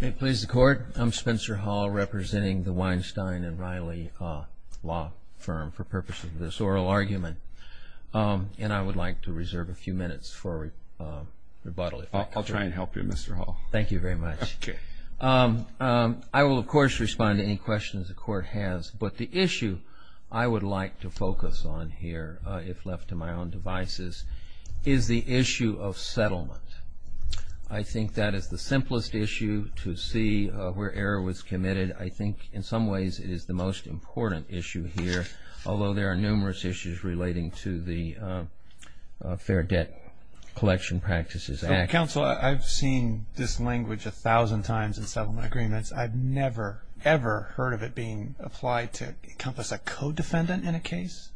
May it please the Court, I'm Spencer Hall representing the Weinstein & Riley Law Firm for purposes of this oral argument. And I would like to reserve a few minutes for rebuttal. I'll try and help you Mr. Hall. Thank you very much. Okay. I will of course respond to any questions the Court has, but the issue I would like to focus on here, if left to my own devices, is the issue of settlement. I think that is the simplest issue to see where error was committed. I think in some ways it is the most important issue here, although there are numerous issues relating to the Fair Debt Collection Practices Act. Counsel, I've seen this language a thousand times in settlement agreements. I've never, ever heard of it being applied to encompass a co-defendant in a case.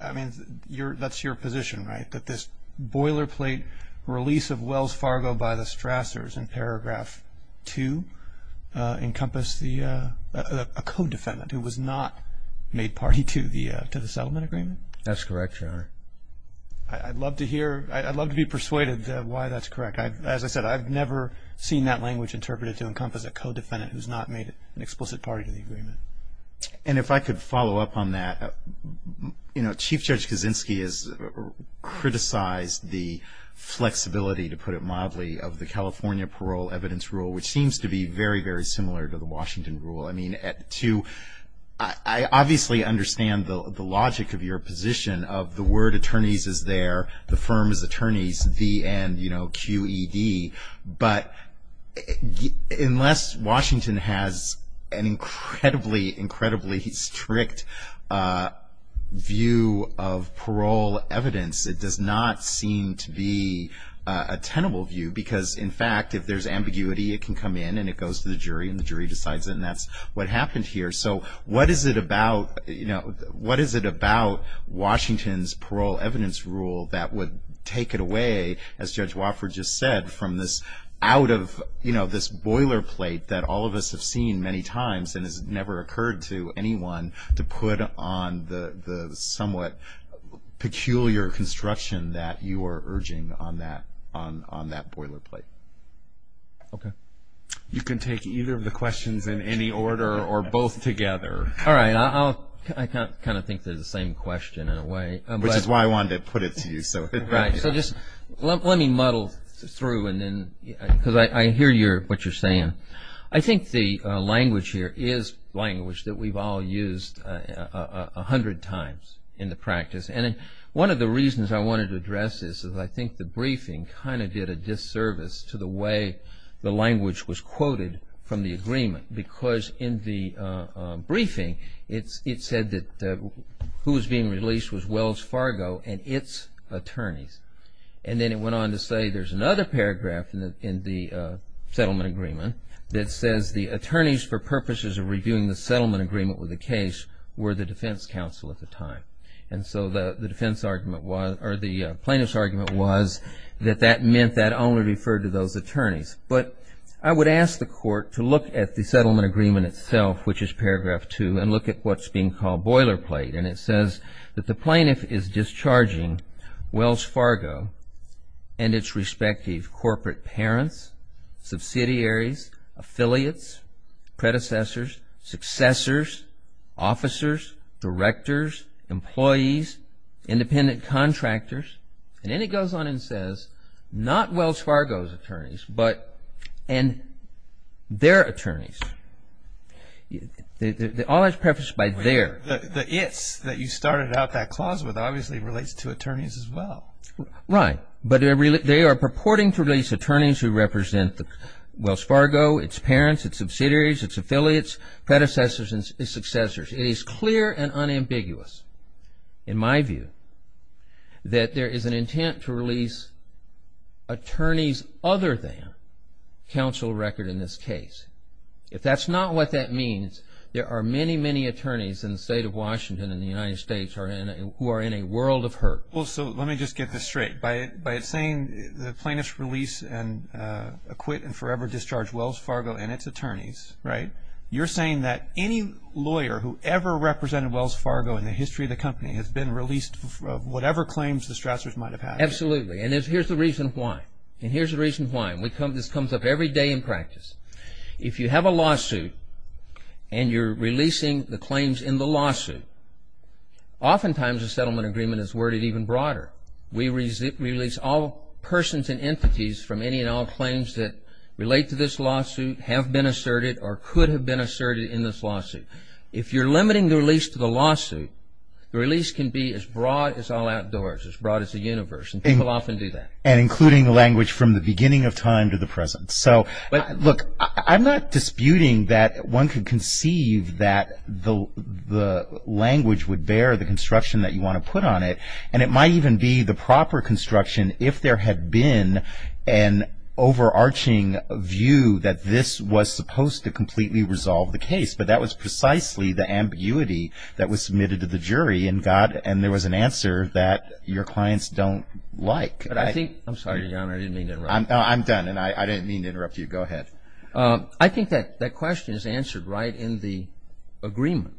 I mean, that's your position, right? That this boilerplate release of Wells Fargo by the Strassers in paragraph 2 encompass a co-defendant who was not made party to the settlement agreement? That's correct, Your Honor. I'd love to hear, I'd love to be persuaded why that's correct. As I said, I've never seen that language interpreted to encompass a co-defendant who's not made an explicit party to the agreement. And if I could follow up on that. You know, Chief Judge Kaczynski has criticized the flexibility, to put it mildly, of the California Parole Evidence Rule, which seems to be very, very similar to the Washington Rule. I mean, to, I obviously understand the logic of your position of the word attorneys is there, the firm is attorneys, the end, you know, QED. But unless Washington has an incredibly, incredibly strict view of parole evidence, it does not seem to be a tenable view. Because, in fact, if there's ambiguity, it can come in and it goes to the jury and the jury decides it. And that's what happened here. So what is it about, you know, what is it about Washington's Parole Evidence Rule that would take it away, as Judge Wofford just said, from this out of, you know, this boilerplate that all of us have seen many times and has never occurred to anyone to put on the somewhat peculiar construction that you are urging on that boilerplate? Okay. You can take either of the questions in any order or both together. All right. I kind of think they're the same question in a way. Which is why I wanted to put it to you. Right. So just let me muddle through and then, because I hear what you're saying. I think the language here is language that we've all used a hundred times in the practice. And one of the reasons I wanted to address this is I think the briefing kind of did a disservice to the way the language was quoted from the agreement. Because in the briefing, it said that who was being released was Wells Fargo and its attorneys. And then it went on to say there's another paragraph in the settlement agreement that says the attorneys for purposes of reviewing the settlement agreement with the case were the defense counsel at the time. And so the plaintiff's argument was that that meant that only referred to those attorneys. But I would ask the court to look at the settlement agreement itself, which is paragraph 2, and look at what's being called boilerplate. And it says that the plaintiff is discharging Wells Fargo and its respective corporate parents, subsidiaries, affiliates, predecessors, successors, officers, directors, employees, independent contractors. And then it goes on and says not Wells Fargo's attorneys, but their attorneys. All that's prefaced by their. The its that you started out that clause with obviously relates to attorneys as well. Right. But they are purporting to release attorneys who represent Wells Fargo, its parents, its subsidiaries, its affiliates, predecessors, and successors. It is clear and unambiguous in my view that there is an intent to release attorneys other than counsel record in this case. If that's not what that means, there are many, many attorneys in the state of Washington and the United States who are in a world of hurt. Well, so let me just get this straight. By saying the plaintiff's release and acquit and forever discharge Wells Fargo and its attorneys, right, you're saying that any lawyer who ever represented Wells Fargo in the history of the company has been released of whatever claims the Strassers might have had. Absolutely. And here's the reason why. And here's the reason why. This comes up every day in practice. If you have a lawsuit and you're releasing the claims in the lawsuit, oftentimes a settlement agreement is worded even broader. We release all persons and entities from any and all claims that relate to this lawsuit, have been asserted, or could have been asserted in this lawsuit. If you're limiting the release to the lawsuit, the release can be as broad as all outdoors, as broad as the universe, and people often do that. And including language from the beginning of time to the present. So, look, I'm not disputing that one could conceive that the language would bear the construction that you want to put on it, and it might even be the proper construction if there had been an overarching view that this was supposed to completely resolve the case. But that was precisely the ambiguity that was submitted to the jury and there was an answer that your clients don't like. I'm sorry, Your Honor, I didn't mean to interrupt. I'm done, and I didn't mean to interrupt you. Go ahead. I think that question is answered right in the agreement.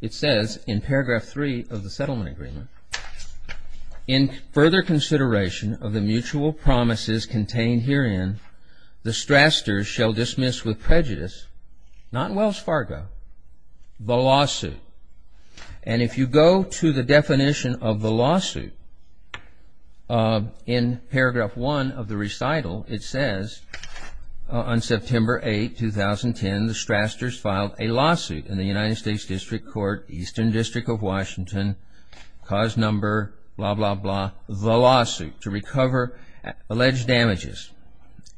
It says in paragraph three of the settlement agreement, in further consideration of the mutual promises contained herein, the strastors shall dismiss with prejudice, not Wells Fargo, the lawsuit. And if you go to the definition of the lawsuit, in paragraph one of the recital, it says, on September 8, 2010, the strastors filed a lawsuit in the United States District Court, Eastern District of Washington, cause number blah, blah, blah, the lawsuit, to recover alleged damages.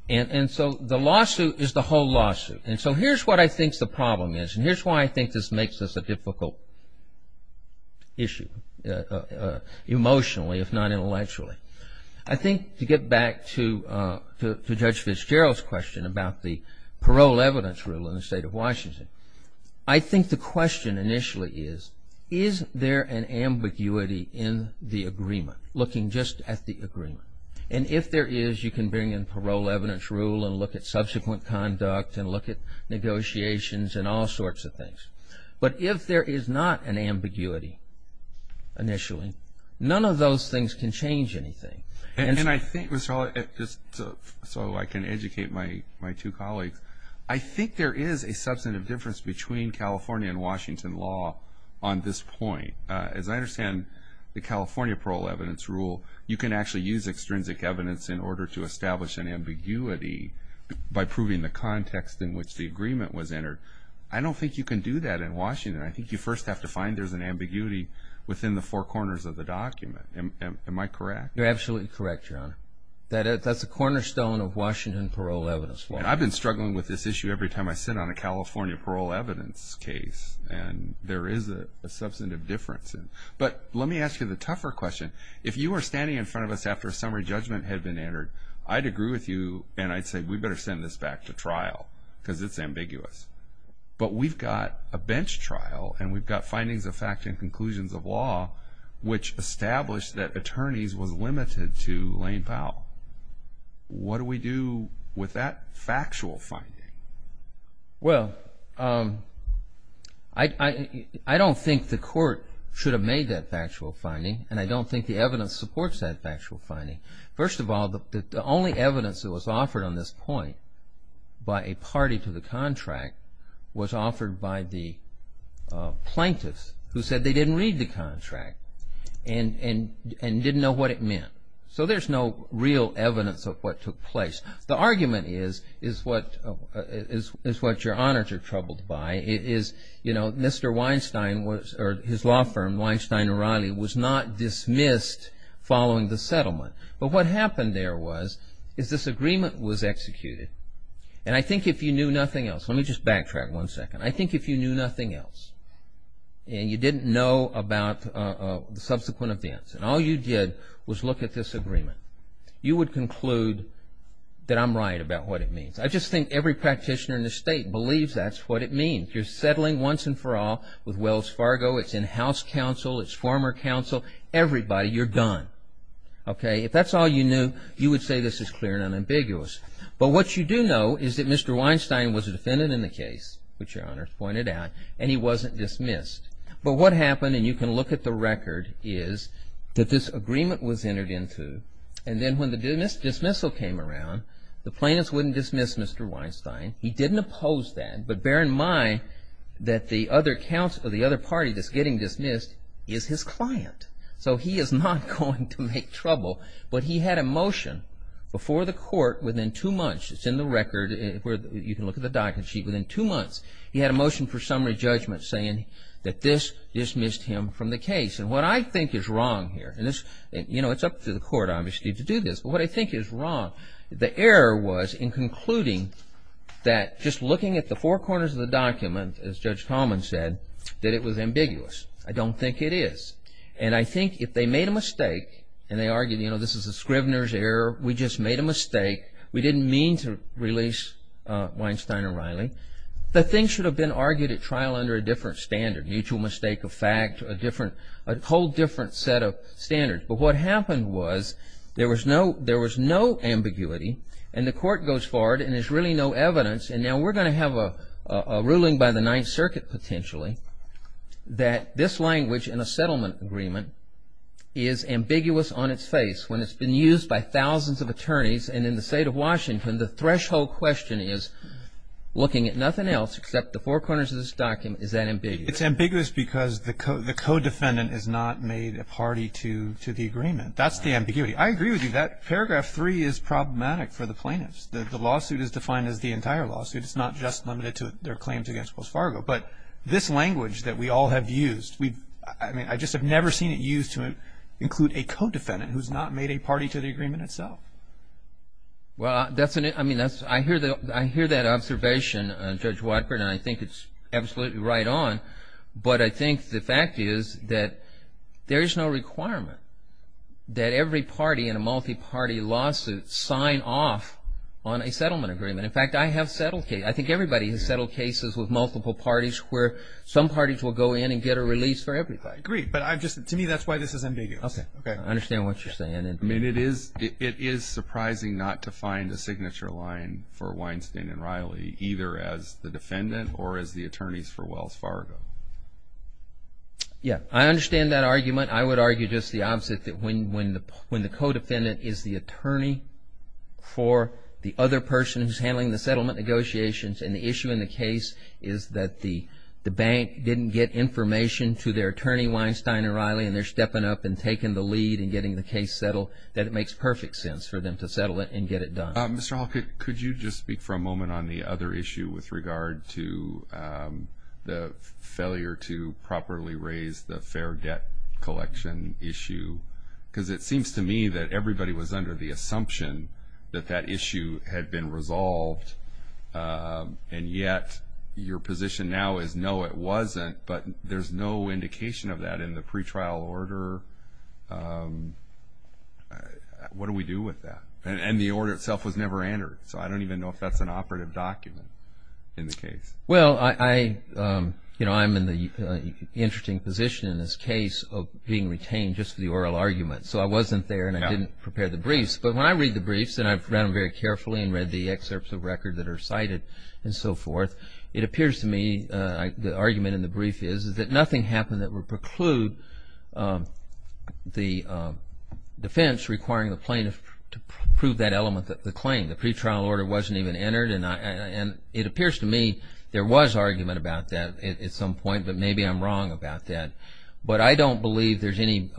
And so the lawsuit is the whole lawsuit. And so here's what I think the problem is, and here's why I think this makes this a difficult issue, emotionally if not intellectually. I think to get back to Judge Fitzgerald's question about the parole evidence rule in the State of Washington, I think the question initially is, is there an ambiguity in the agreement, looking just at the agreement? And if there is, you can bring in parole evidence rule and look at subsequent conduct and look at negotiations and all sorts of things. But if there is not an ambiguity initially, none of those things can change anything. And I think, Mr. Hall, just so I can educate my two colleagues, I think there is a substantive difference between California and Washington law on this point. As I understand the California parole evidence rule, you can actually use extrinsic evidence in order to establish an ambiguity by proving the context in which the agreement was entered. I don't think you can do that in Washington. I think you first have to find there's an ambiguity within the four corners of the document. Am I correct? You're absolutely correct, Your Honor. That's a cornerstone of Washington parole evidence. I've been struggling with this issue every time I sit on a California parole evidence case, and there is a substantive difference. But let me ask you the tougher question. If you were standing in front of us after a summary judgment had been entered, I'd agree with you, and I'd say we'd better send this back to trial because it's ambiguous. But we've got a bench trial, and we've got findings of fact and conclusions of law which establish that attorneys was limited to Lane Powell. What do we do with that factual finding? Well, I don't think the court should have made that factual finding, and I don't think the evidence supports that factual finding. First of all, the only evidence that was offered on this point by a party to the contract was offered by the plaintiffs who said they didn't read the contract and didn't know what it meant. So there's no real evidence of what took place. The argument is what your honors are troubled by. It is, you know, Mr. Weinstein or his law firm, Weinstein & Reilly, was not dismissed following the settlement. But what happened there was is this agreement was executed, and I think if you knew nothing else. Let me just backtrack one second. I think if you knew nothing else, and you didn't know about the subsequent events, and all you did was look at this agreement, you would conclude that I'm right about what it means. I just think every practitioner in the state believes that's what it means. You're settling once and for all with Wells Fargo. It's in house counsel. It's former counsel. Everybody, you're done. Okay, if that's all you knew, you would say this is clear and unambiguous. But what you do know is that Mr. Weinstein was a defendant in the case, which your honors pointed out, and he wasn't dismissed. But what happened, and you can look at the record, is that this agreement was entered into. And then when the dismissal came around, the plaintiffs wouldn't dismiss Mr. Weinstein. He didn't oppose that. But bear in mind that the other party that's getting dismissed is his client. So he is not going to make trouble. But he had a motion before the court within two months. It's in the record. You can look at the document sheet. He had a motion for summary judgment saying that this dismissed him from the case. And what I think is wrong here, and, you know, it's up to the court, obviously, to do this. But what I think is wrong, the error was in concluding that just looking at the four corners of the document, as Judge Coleman said, that it was ambiguous. I don't think it is. And I think if they made a mistake and they argued, you know, this is a Scrivener's error, we just made a mistake. We didn't mean to release Weinstein or Riley. The thing should have been argued at trial under a different standard, mutual mistake of fact, a whole different set of standards. But what happened was there was no ambiguity. And the court goes forward and there's really no evidence. And now we're going to have a ruling by the Ninth Circuit potentially that this language in a settlement agreement is ambiguous on its face when it's been used by thousands of attorneys and in the State of Washington, the threshold question is looking at nothing else except the four corners of this document, is that ambiguous? It's ambiguous because the co-defendant has not made a party to the agreement. That's the ambiguity. I agree with you. That paragraph 3 is problematic for the plaintiffs. The lawsuit is defined as the entire lawsuit. It's not just limited to their claims against Wells Fargo. But this language that we all have used, I mean, I just have never seen it used to include a co-defendant who's not made a party to the agreement itself. Well, I mean, I hear that observation, Judge Watford, and I think it's absolutely right on. But I think the fact is that there is no requirement that every party in a multi-party lawsuit sign off on a settlement agreement. In fact, I have settled cases. I think everybody has settled cases with multiple parties where some parties will go in and get a release for everybody. I agree. But to me, that's why this is ambiguous. Okay. I understand what you're saying. I mean, it is surprising not to find a signature line for Weinstein and Riley, either as the defendant or as the attorneys for Wells Fargo. Yeah. I understand that argument. I would argue just the opposite, that when the co-defendant is the attorney for the other person who's handling the settlement negotiations and the issue in the case is that the bank didn't get information to their attorney, Weinstein and Riley, and they're stepping up and taking the lead and getting the case settled, that it makes perfect sense for them to settle it and get it done. Mr. Hall, could you just speak for a moment on the other issue with regard to the failure to properly raise the fair debt collection issue? Because it seems to me that everybody was under the assumption that that issue had been resolved, and yet your position now is, no, it wasn't, but there's no indication of that in the pretrial order. What do we do with that? And the order itself was never entered, so I don't even know if that's an operative document in the case. Well, I'm in the interesting position in this case of being retained just for the oral argument, so I wasn't there and I didn't prepare the briefs. But when I read the briefs, and I've read them very carefully and read the excerpts of record that are cited and so forth, it appears to me the argument in the brief is that nothing happened that would preclude the defense requiring the plaintiff to prove that element of the claim. The pretrial order wasn't even entered, and it appears to me there was argument about that at some point, but maybe I'm wrong about that. But I don't believe there's any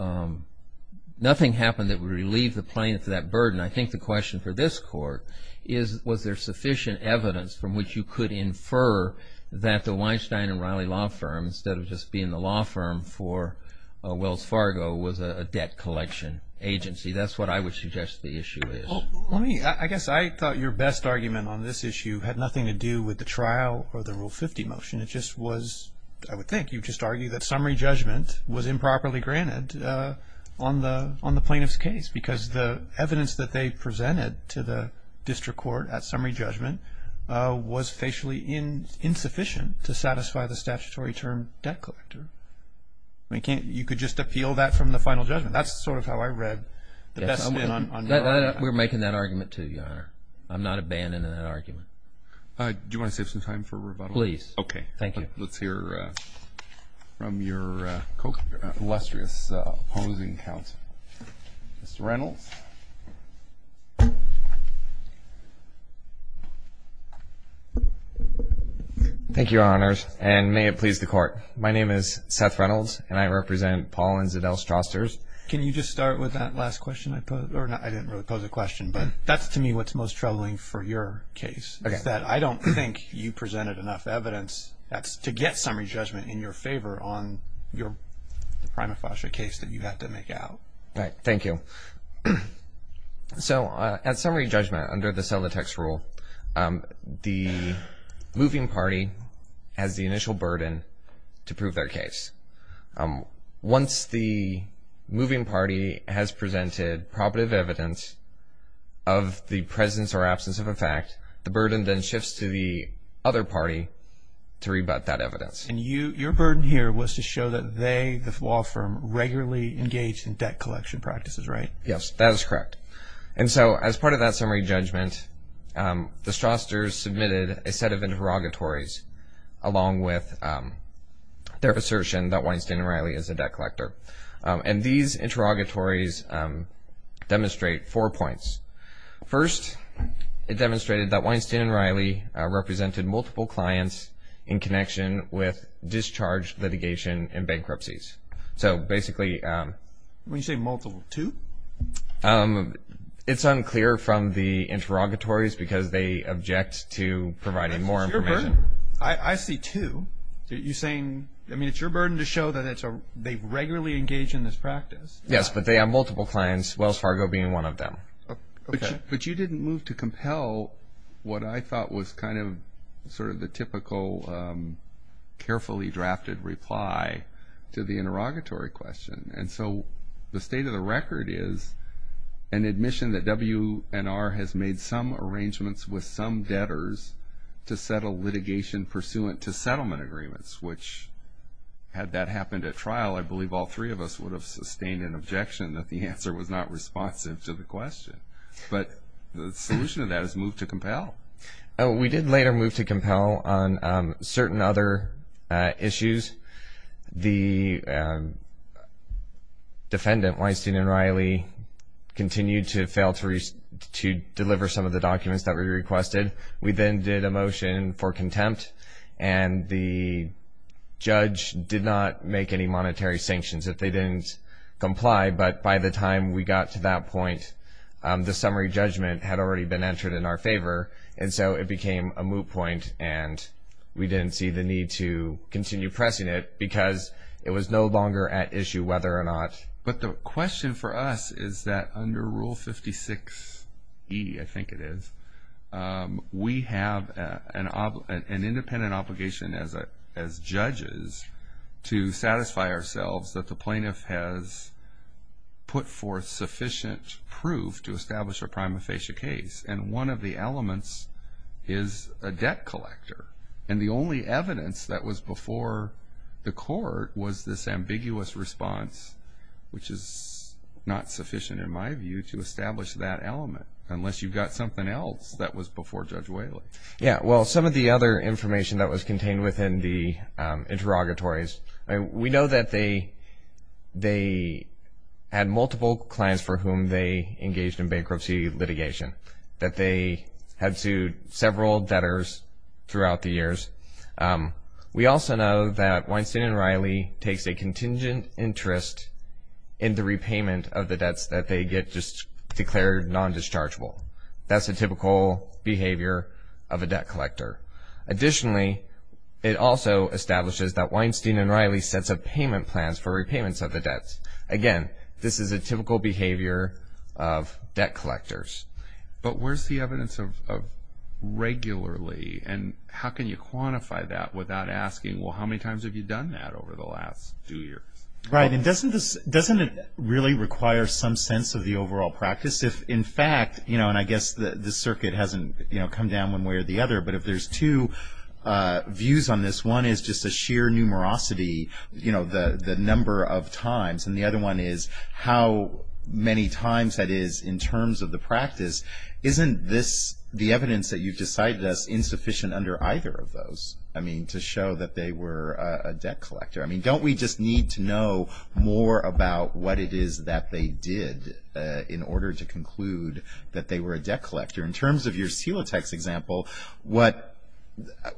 – nothing happened that would relieve the plaintiff of that burden. I think the question for this Court is was there sufficient evidence from which you could infer that the Weinstein and Riley law firm, instead of just being the law firm for Wells Fargo, was a debt collection agency. That's what I would suggest the issue is. I guess I thought your best argument on this issue had nothing to do with the trial or the Rule 50 motion. It just was – I would think you would just argue that summary judgment was improperly granted on the plaintiff's case because the evidence that they presented to the district court at summary judgment was facially insufficient to satisfy the statutory term debt collector. You could just appeal that from the final judgment. That's sort of how I read the best thing on your argument. We're making that argument, too, Your Honor. I'm not abandoning that argument. Do you want to save some time for rebuttal? Please. Okay. Thank you. Let's hear from your illustrious opposing counsel. Mr. Reynolds. Thank you, Your Honors, and may it please the Court. My name is Seth Reynolds, and I represent Paul and Zadell Strousters. Can you just start with that last question I posed? I didn't really pose a question, but that's to me what's most troubling for your case. Okay. It's that I don't think you presented enough evidence to get summary judgment in your favor on the prima facie case that you had to make out. Right. Thank you. So at summary judgment, under the sell the text rule, the moving party has the initial burden to prove their case. Once the moving party has presented probative evidence of the presence or absence of a fact, the burden then shifts to the other party to rebut that evidence. And your burden here was to show that they, the law firm, regularly engaged in debt collection practices, right? Yes, that is correct. And so as part of that summary judgment, the Strousters submitted a set of interrogatories, along with their assertion that Weinstein and Riley is a debt collector. And these interrogatories demonstrate four points. First, it demonstrated that Weinstein and Riley represented multiple clients in connection with discharge litigation and bankruptcies. So basically- When you say multiple, two? It's unclear from the interrogatories because they object to providing more information. I see two. You're saying, I mean, it's your burden to show that they regularly engage in this practice. Yes, but they have multiple clients, Wells Fargo being one of them. But you didn't move to compel what I thought was kind of sort of the typical carefully drafted reply to the interrogatory question. And so the state of the record is an admission that WNR has made some arrangements with some debtors to settle litigation pursuant to settlement agreements, which had that happened at trial, I believe all three of us would have sustained an objection that the answer was not responsive to the question. But the solution to that is move to compel. We did later move to compel on certain other issues. The defendant, Weinstein and Riley, continued to fail to deliver some of the documents that were requested. We then did a motion for contempt, and the judge did not make any monetary sanctions if they didn't comply. But by the time we got to that point, the summary judgment had already been entered in our favor. And so it became a moot point, and we didn't see the need to continue pressing it because it was no longer at issue whether or not- We have an independent obligation as judges to satisfy ourselves that the plaintiff has put forth sufficient proof to establish a prima facie case. And one of the elements is a debt collector. And the only evidence that was before the court was this ambiguous response, which is not sufficient in my view to establish that element, unless you've got something else that was before Judge Whaley. Yeah, well, some of the other information that was contained within the interrogatories, we know that they had multiple clients for whom they engaged in bankruptcy litigation, that they had sued several debtors throughout the years. We also know that Weinstein and Riley takes a contingent interest in the repayment of the debts that they get just declared non-dischargeable. That's a typical behavior of a debt collector. Additionally, it also establishes that Weinstein and Riley sets up payment plans for repayments of the debts. Again, this is a typical behavior of debt collectors. But where's the evidence of regularly, and how can you quantify that without asking, well, how many times have you done that over the last two years? Right. And doesn't it really require some sense of the overall practice if, in fact, you know, and I guess the circuit hasn't, you know, come down one way or the other, but if there's two views on this, one is just a sheer numerosity, you know, the number of times, and the other one is how many times that is in terms of the practice. Isn't this, the evidence that you've decided is insufficient under either of those? I mean, to show that they were a debt collector. I mean, don't we just need to know more about what it is that they did in order to conclude that they were a debt collector? In terms of your Celotex example, what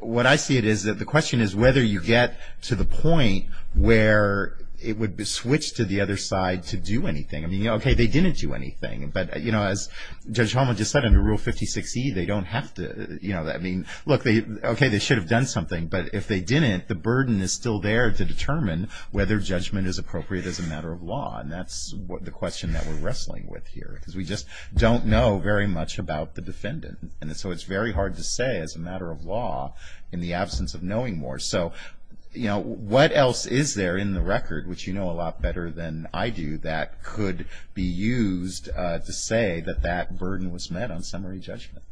I see it is that the question is whether you get to the point where it would be switched to the other side to do anything. I mean, okay, they didn't do anything, but, you know, as Judge Hummel just said under Rule 56E, they don't have to, you know, I mean, look, okay, they should have done something, but if they didn't, the burden is still there to determine whether judgment is appropriate as a matter of law, and that's the question that we're wrestling with here, because we just don't know very much about the defendant, and so it's very hard to say as a matter of law in the absence of knowing more. So, you know, what else is there in the record, which you know a lot better than I do, that could be used to say that that burden was met on summary judgment?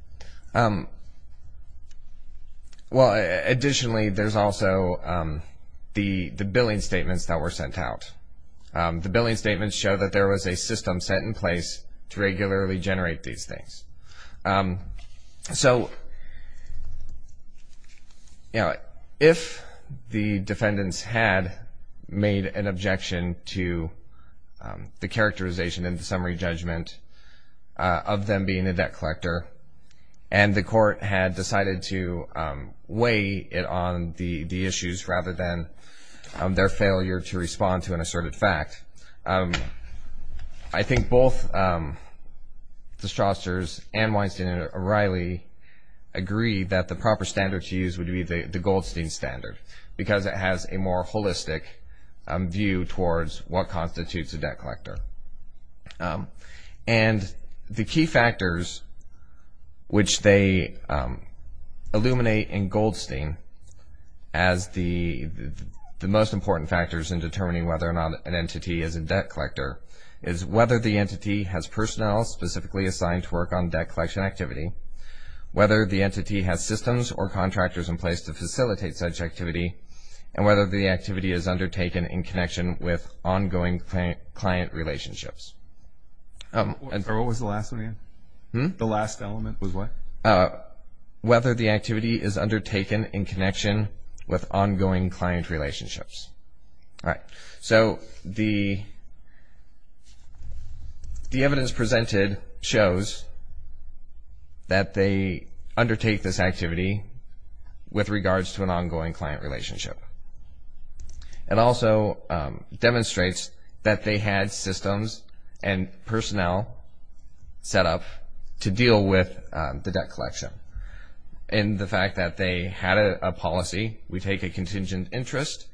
Well, additionally, there's also the billing statements that were sent out. The billing statements show that there was a system set in place to regularly generate these things. So, you know, if the defendants had made an objection to the characterization in the summary judgment of them being a debt collector and the court had decided to weigh it on the issues rather than their failure to respond to an asserted fact, I think both the Strousters and Weinstein and O'Reilly agreed that the proper standard to use would be the Goldstein standard, because it has a more holistic view towards what constitutes a debt collector. And the key factors which they illuminate in Goldstein as the most important factors in determining whether or not an entity is a debt collector is whether the entity has personnel specifically assigned to work on debt collection activity, whether the entity has systems or contractors in place to facilitate such activity, and whether the activity is undertaken in connection with ongoing client relationships. What was the last one again? The last element was what? Whether the activity is undertaken in connection with ongoing client relationships. All right. So the evidence presented shows that they undertake this activity with regards to an ongoing client relationship. It also demonstrates that they had systems and personnel set up to deal with the debt collection. In the fact that they had a policy, we take a contingent interest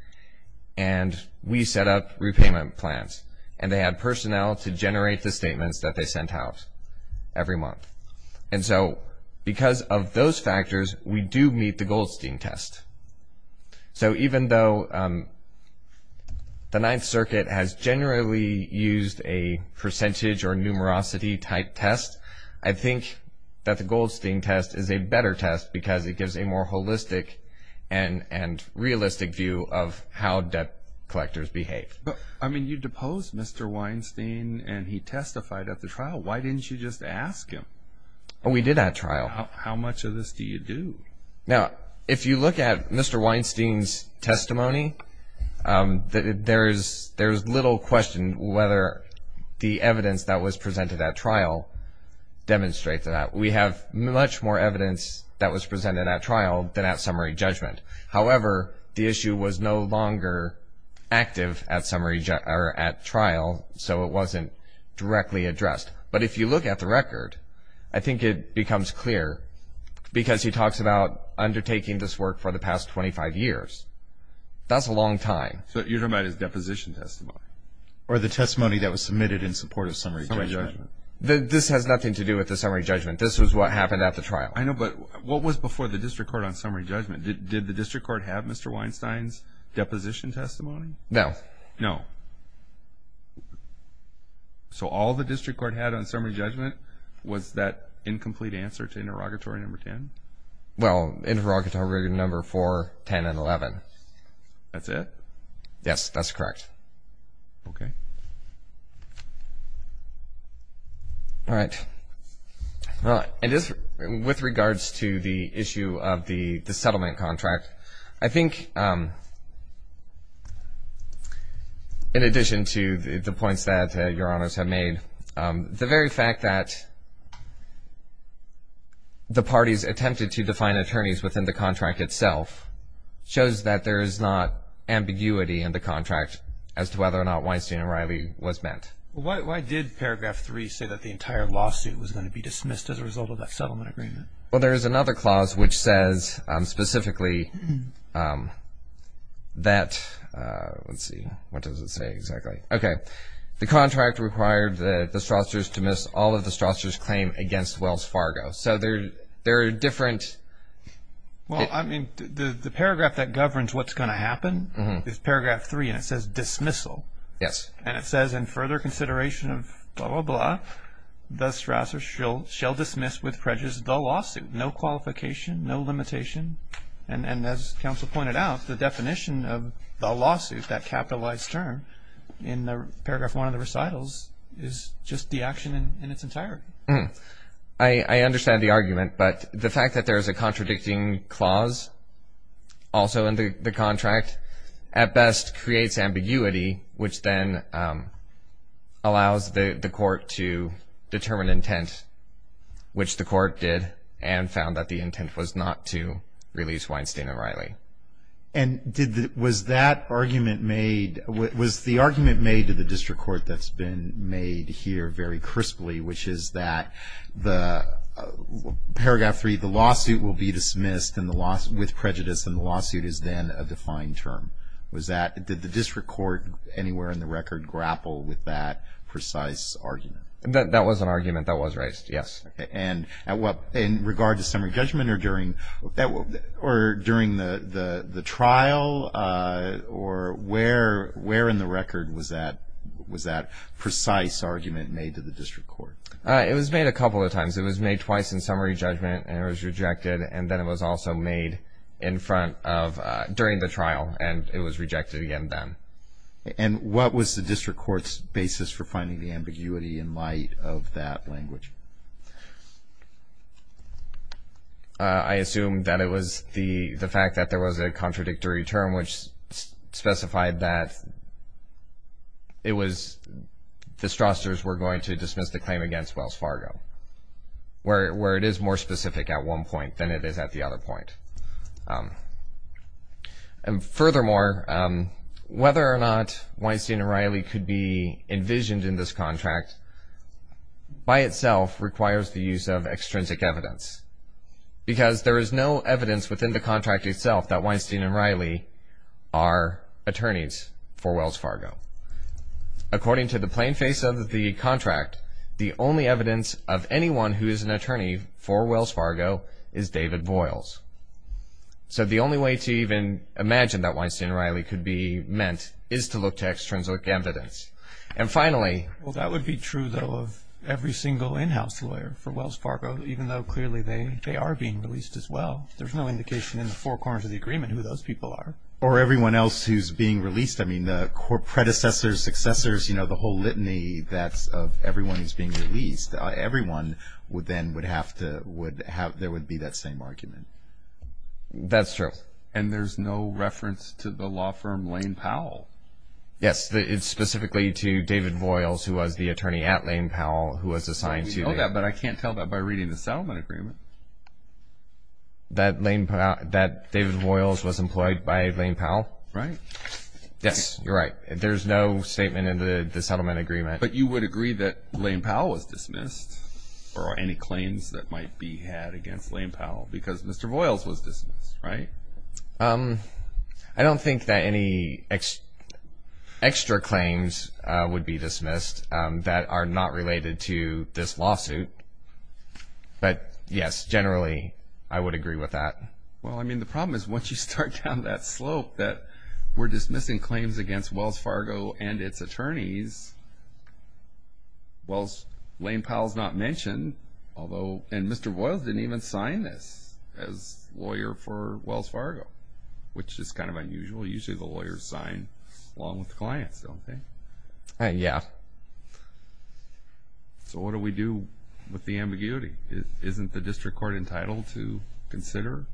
and we set up repayment plans, and they had personnel to generate the statements that they sent out every month. And so because of those factors, we do meet the Goldstein test. So even though the Ninth Circuit has generally used a percentage or numerosity type test, I think that the Goldstein test is a better test because it gives a more holistic and realistic view of how debt collectors behave. I mean you deposed Mr. Weinstein and he testified at the trial. Why didn't you just ask him? We did at trial. How much of this do you do? Now, if you look at Mr. Weinstein's testimony, there's little question whether the evidence that was presented at trial demonstrates that. We have much more evidence that was presented at trial than at summary judgment. However, the issue was no longer active at trial, so it wasn't directly addressed. But if you look at the record, I think it becomes clear because he talks about undertaking this work for the past 25 years. That's a long time. So you're talking about his deposition testimony or the testimony that was submitted in support of summary judgment? Summary judgment. This has nothing to do with the summary judgment. This is what happened at the trial. I know, but what was before the district court on summary judgment? Did the district court have Mr. Weinstein's deposition testimony? No. No. So all the district court had on summary judgment was that incomplete answer to interrogatory number 10? Well, interrogatory number 4, 10, and 11. That's it? Yes, that's correct. Okay. All right. Well, with regards to the issue of the settlement contract, I think in addition to the points that Your Honors have made, the very fact that the parties attempted to define attorneys within the contract itself shows that there is not ambiguity in the contract as to whether or not Weinstein and Riley was met. Well, why did Paragraph 3 say that the entire lawsuit was going to be dismissed as a result of that settlement agreement? Well, there is another clause which says specifically that, let's see, what does it say exactly? Okay. The contract required the Strousters to miss all of the Strousters' claim against Wells Fargo. So there are different. Well, I mean, the paragraph that governs what's going to happen is Paragraph 3, and it says dismissal. Yes. And it says in further consideration of blah, blah, blah, the Strousters shall dismiss with prejudice the lawsuit. No qualification, no limitation. And as counsel pointed out, the definition of the lawsuit, that capitalized term in Paragraph 1 of the recitals is just the action in its entirety. I understand the argument, but the fact that there is a contradicting clause also in the contract at best creates ambiguity, which then allows the court to determine intent, which the court did and found that the intent was not to release Weinstein and Riley. And was that argument made, was the argument made to the district court that's been made here very crisply, which is that Paragraph 3, the lawsuit will be dismissed with prejudice and the lawsuit is then a defined term? Did the district court anywhere in the record grapple with that precise argument? That was an argument that was raised, yes. And in regard to summary judgment or during the trial, or where in the record was that precise argument made to the district court? It was made a couple of times. It was made twice in summary judgment and it was rejected, and then it was also made in front of, during the trial, and it was rejected again then. And what was the district court's basis for finding the ambiguity in light of that language? I assume that it was the fact that there was a contradictory term, which specified that it was, the Strassers were going to dismiss the claim against Wells Fargo, where it is more specific at one point than it is at the other point. And furthermore, whether or not Weinstein and Riley could be envisioned in this contract, by itself requires the use of extrinsic evidence, because there is no evidence within the contract itself that Weinstein and Riley are attorneys for Wells Fargo. According to the plain face of the contract, the only evidence of anyone who is an attorney for Wells Fargo is David Voyles. So the only way to even imagine that Weinstein and Riley could be meant is to look to extrinsic evidence. And finally, Well, that would be true, though, of every single in-house lawyer for Wells Fargo, even though clearly they are being released as well. There's no indication in the four corners of the agreement who those people are. Or everyone else who's being released. I mean, the predecessors, successors, you know, the whole litany that's of everyone who's being released, everyone would then would have to, would have, there would be that same argument. That's true. And there's no reference to the law firm Lane Powell. Yes, it's specifically to David Voyles, who was the attorney at Lane Powell, who was assigned to I know that, but I can't tell that by reading the settlement agreement. That Lane, that David Voyles was employed by Lane Powell. Right. Yes, you're right. There's no statement in the settlement agreement. But you would agree that Lane Powell was dismissed or any claims that might be had against Lane Powell because Mr. Voyles was dismissed, right? I don't think that any extra claims would be dismissed that are not related to this lawsuit. But yes, generally, I would agree with that. Well, I mean, the problem is once you start down that slope that we're dismissing claims against Wells Fargo and its attorneys. Well, Lane Powell's not mentioned, although, and Mr. Voyles didn't even sign this as lawyer for Wells Fargo, which is kind of unusual. Usually the lawyers sign along with the clients, don't they? Yeah. So what do we do with the ambiguity? Isn't the district court entitled to consider?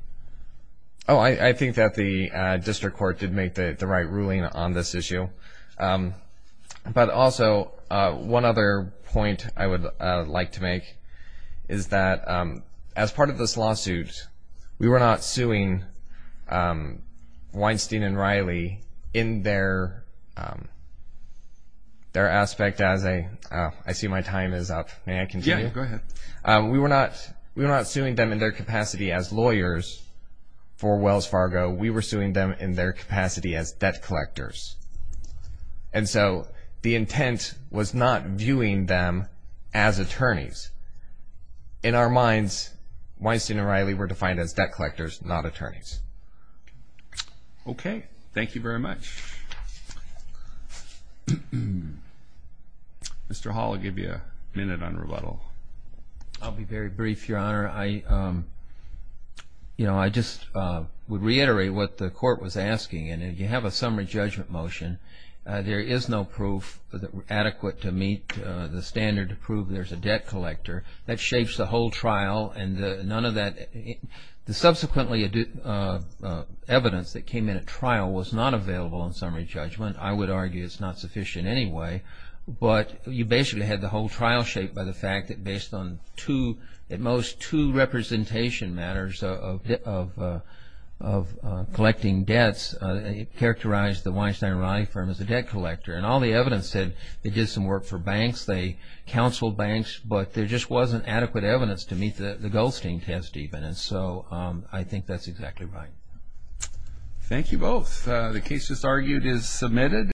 Oh, I think that the district court did make the right ruling on this issue. But also, one other point I would like to make is that as part of this lawsuit, we were not suing Weinstein and Riley in their aspect as a – I see my time is up. May I continue? Yeah, go ahead. We were not suing them in their capacity as lawyers for Wells Fargo. We were suing them in their capacity as debt collectors. And so the intent was not viewing them as attorneys. In our minds, Weinstein and Riley were defined as debt collectors, not attorneys. Okay. Thank you very much. Mr. Hall, I'll give you a minute on rebuttal. I'll be very brief, Your Honor. I just would reiterate what the court was asking. And if you have a summary judgment motion, there is no proof adequate to meet the standard to prove there's a debt collector. That shapes the whole trial and none of that – the subsequently evidence that came in at trial was not available in summary judgment. I would argue it's not sufficient anyway. But you basically had the whole trial shaped by the fact that based on two – at most two representation matters of collecting debts, it characterized the Weinstein and Riley firm as a debt collector. And all the evidence said they did some work for banks, they counseled banks, but there just wasn't adequate evidence to meet the Goldstein test even. And so I think that's exactly right. Thank you both. The case just argued is submitted.